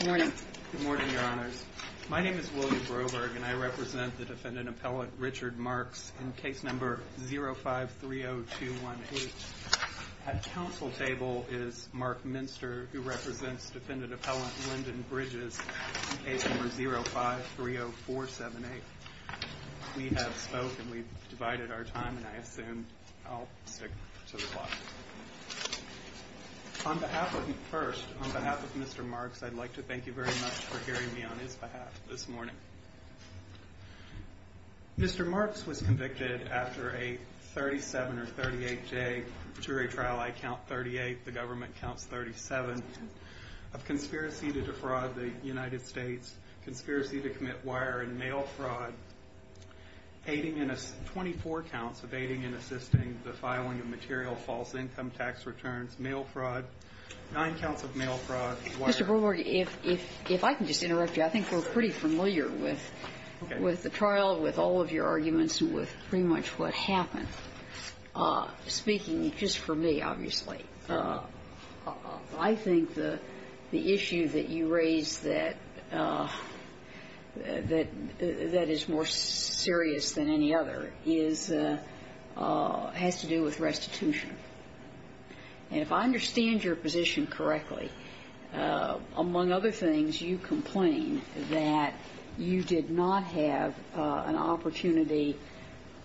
Good morning, Your Honors. My name is William Broberg, and I represent the defendant appellate Richard Marks in case number 053021H. At counsel table is Mark Minster, who represents defendant appellant Lyndon Bridges in case number 0530478. We have spoken, we've divided our time, and I assume I'll stick to the clock. On behalf of, first, on behalf of Mr. Marks, I'd like to thank you very much for hearing me on his behalf this morning. Mr. Marks was convicted after a 37 or 38 day jury trial, I count 38, the government counts 37, of conspiracy to defraud the United States, conspiracy to commit wire and mail fraud, 24 counts of aiding and assisting the filing of material false income tax returns, mail fraud, 9 counts of mail fraud. Mr. Broberg, if I can just interrupt you, I think we're pretty familiar with the trial, with all of your arguments, and with pretty much what happened. Speaking just for me, obviously, I think the issue that you raised that is more serious than any other has to do with restitution. And if I understand your position correctly, among other things, you complain that you did not have an opportunity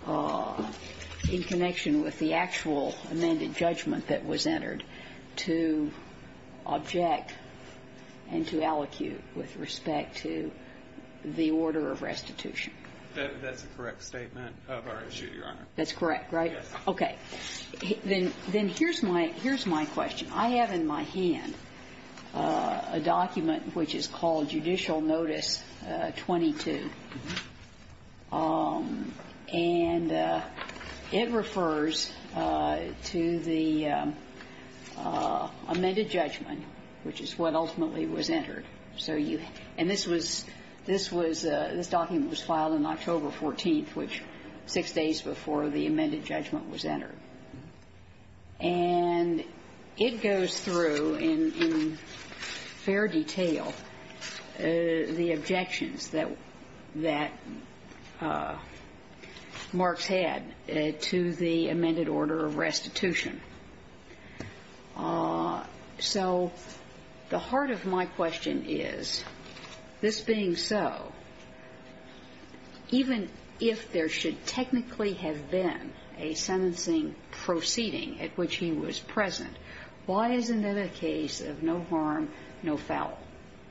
in connection with the actual amended judgment that was entered to object and to allocute with respect to the order of restitution. That's a correct statement of our issue, Your Honor. That's correct, right? Yes. Okay. Then here's my question. I have in my hand a document which is called Judicial Notice 22, and it refers to the amended judgment, which is what ultimately was entered. So you – and this was – this was – this document was filed on October 14th, which six days before the amended judgment was entered. And it goes through in fair detail the objections that – that Marks had to the amended order of restitution. So the heart of my question is, this being so, even if there should technically have been a sentencing proceeding at which he was present, why isn't it a case of no harm, no foul?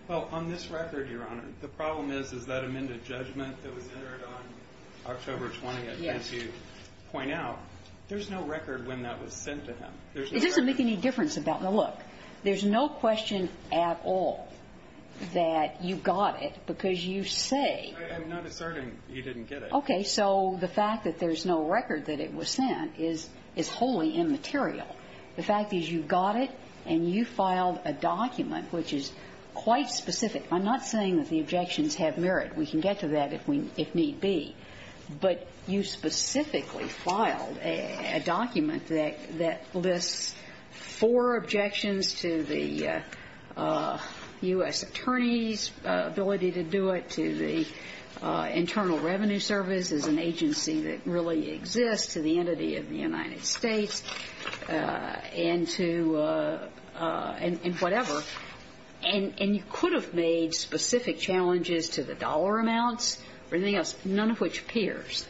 Well, on this record, Your Honor, the problem is, is that amended judgment that was entered on October 20th. Yes. And I would like to point out, there's no record when that was sent to him. There's no record. It doesn't make any difference about – now, look, there's no question at all that you got it, because you say – I'm not asserting you didn't get it. Okay. So the fact that there's no record that it was sent is wholly immaterial. The fact is you got it and you filed a document which is quite specific. I'm not saying that the objections have merit. We can get to that if we – if need be. But you specifically filed a document that lists four objections to the U.S. Attorney's ability to do it, to the Internal Revenue Service as an agency that really exists, to the entity of the United States, and to – and whatever. And you could have made specific challenges to the dollar amounts or anything else, none of which appears.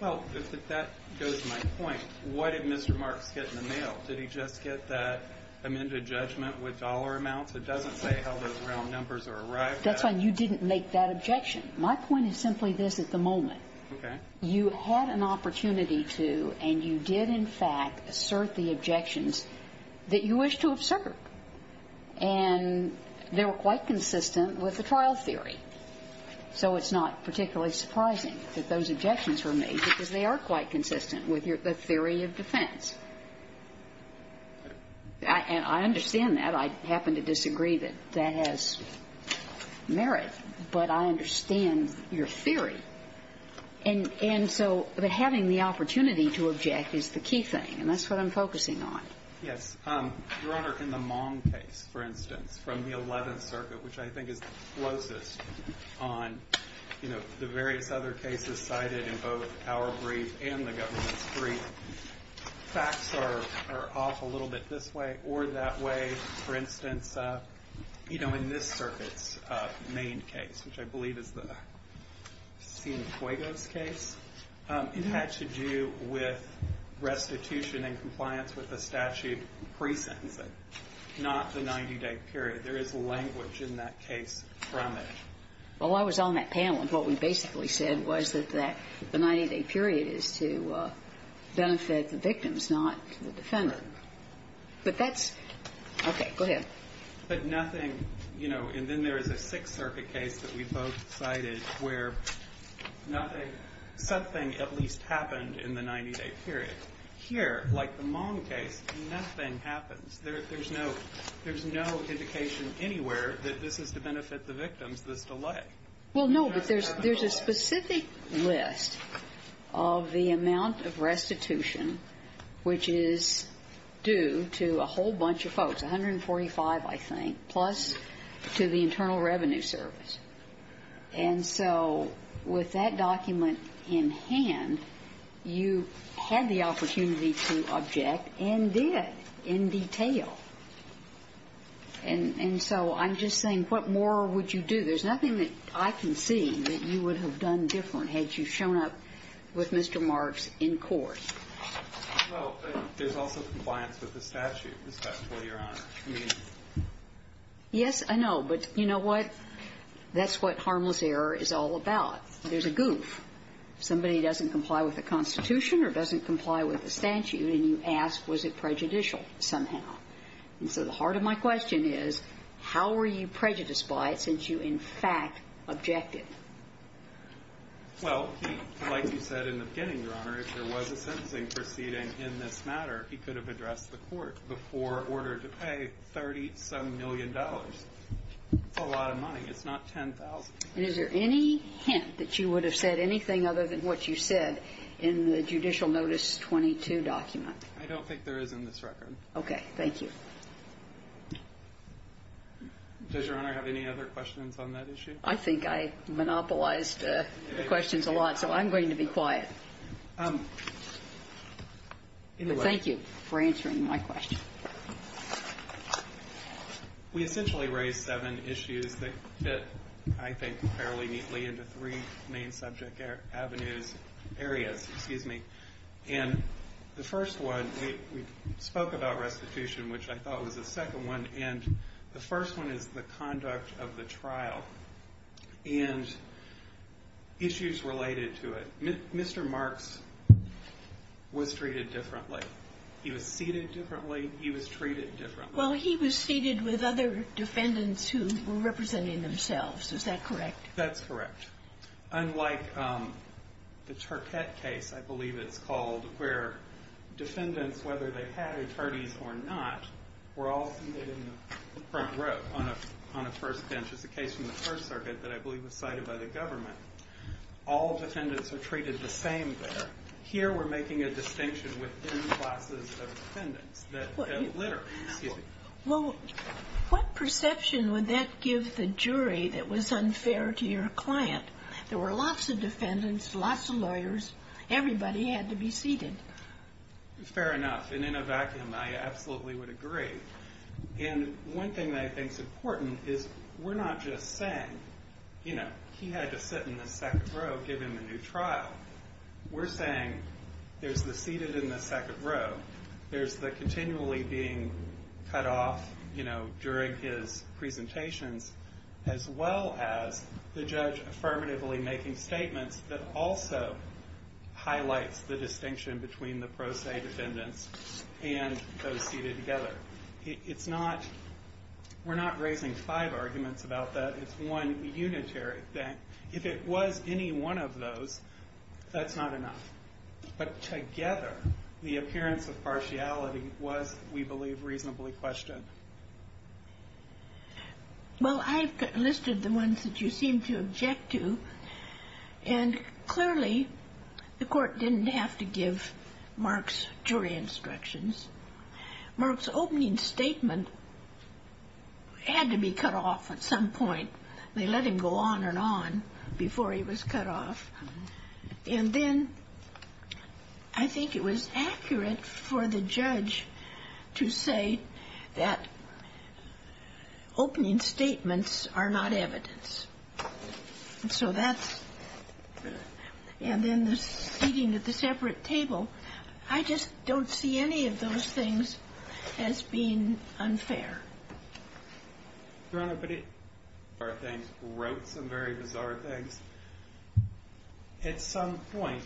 Well, if that goes to my point, what did Mr. Marks get in the mail? Did he just get that amended judgment with dollar amounts? It doesn't say how those round numbers are arrived at. That's why you didn't make that objection. My point is simply this at the moment. Okay. You had an opportunity to and you did, in fact, assert the objections that you wish to have served. And they were quite consistent with the trial theory. So it's not particularly surprising that those objections were made because they are quite consistent with your – the theory of defense. And I understand that. I happen to disagree that that has merit. But I understand your theory. And so having the opportunity to object is the key thing, and that's what I'm focusing on. Yes. Your Honor, in the Mong case, for instance, from the Eleventh Circuit, which I think is the closest on, you know, the various other cases cited in both our brief and the government's brief, facts are off a little bit this way or that way. For instance, you know, in this circuit's main case, which I believe is the Sina Cuegos case, it had to do with restitution and compliance with the statute pre-sentencing, not the 90-day period. There is language in that case from it. Well, I was on that panel, and what we basically said was that the 90-day period is to benefit the victims, not the defender. But that's – okay. Go ahead. But nothing – you know, and then there is a Sixth Circuit case that we both cited where nothing – something at least happened in the 90-day period. Here, like the Mong case, nothing happens. There's no indication anywhere that this is to benefit the victims, this delay. Well, no. But there's a specific list of the amount of restitution which is due to a whole bunch of folks, 145, I think, plus to the Internal Revenue Service. And so with that document in hand, you had the opportunity to object and did in detail. And so I'm just saying what more would you do? There's nothing that I can see that you would have done different had you shown up with Mr. Marks in court. Well, there's also compliance with the statute, Ms. Bestow, Your Honor. I mean, yes, I know, but you know what, that's what harmless error is all about. There's a goof. Somebody doesn't comply with the Constitution or doesn't comply with the statute and you ask was it prejudicial somehow. And so the heart of my question is how were you prejudiced by it since you, in fact, objected? Well, like you said in the beginning, Your Honor, if there was a sentencing proceeding in this matter, he could have addressed the court before order to pay $37 million. That's a lot of money. It's not $10,000. And is there any hint that you would have said anything other than what you said in the Judicial Notice 22 document? I don't think there is in this record. Okay. Thank you. Does Your Honor have any other questions on that issue? I think I monopolized the questions a lot, so I'm going to be quiet. But thank you for answering my question. We essentially raised seven issues that fit, I think, fairly neatly into three main subject avenues, areas. Excuse me. And the first one, we spoke about restitution, which I thought was the second one. And the first one is the conduct of the trial and issues related to it. Mr. Marks was treated differently. He was seated differently. He was treated differently. Well, he was seated with other defendants who were representing themselves. Is that correct? That's correct. Unlike the Turquette case, I believe it's called, where defendants, whether they had attorneys or not, were all seated in the front row on a first bench. It's a case from the First Circuit that I believe was cited by the government. All defendants are treated the same there. Here we're making a distinction within classes of defendants that litter. Excuse me. Well, what perception would that give the jury that was unfair to your client? There were lots of defendants, lots of lawyers. Everybody had to be seated. Fair enough. And in a vacuum, I absolutely would agree. And one thing that I think is important is we're not just saying, you know, he had to sit in the second row given the new trial. We're saying there's the seated in the second row. There's the continually being cut off, you know, during his presentations, as well as the judge affirmatively making statements that also highlights the distinction between the pro se defendants and those seated together. It's not, we're not raising five arguments about that. It's one unitary thing. If it was any one of those, that's not enough. But together, the appearance of partiality was, we believe, reasonably questioned. Well, I've listed the ones that you seem to object to. And clearly, the court didn't have to give Mark's jury instructions. Mark's opening statement had to be cut off at some point. They let him go on and on before he was cut off. And then I think it was accurate for the judge to say that opening statements are not evidence. And so that's the, and then the seating at the separate table. I just don't see any of those things as being unfair. Your Honor, but he wrote some very bizarre things. At some point,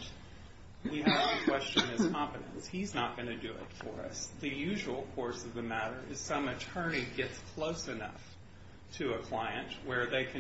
we have to question his competence. He's not going to do it for us. The usual course of the matter is some attorney gets close enough to a client where they can.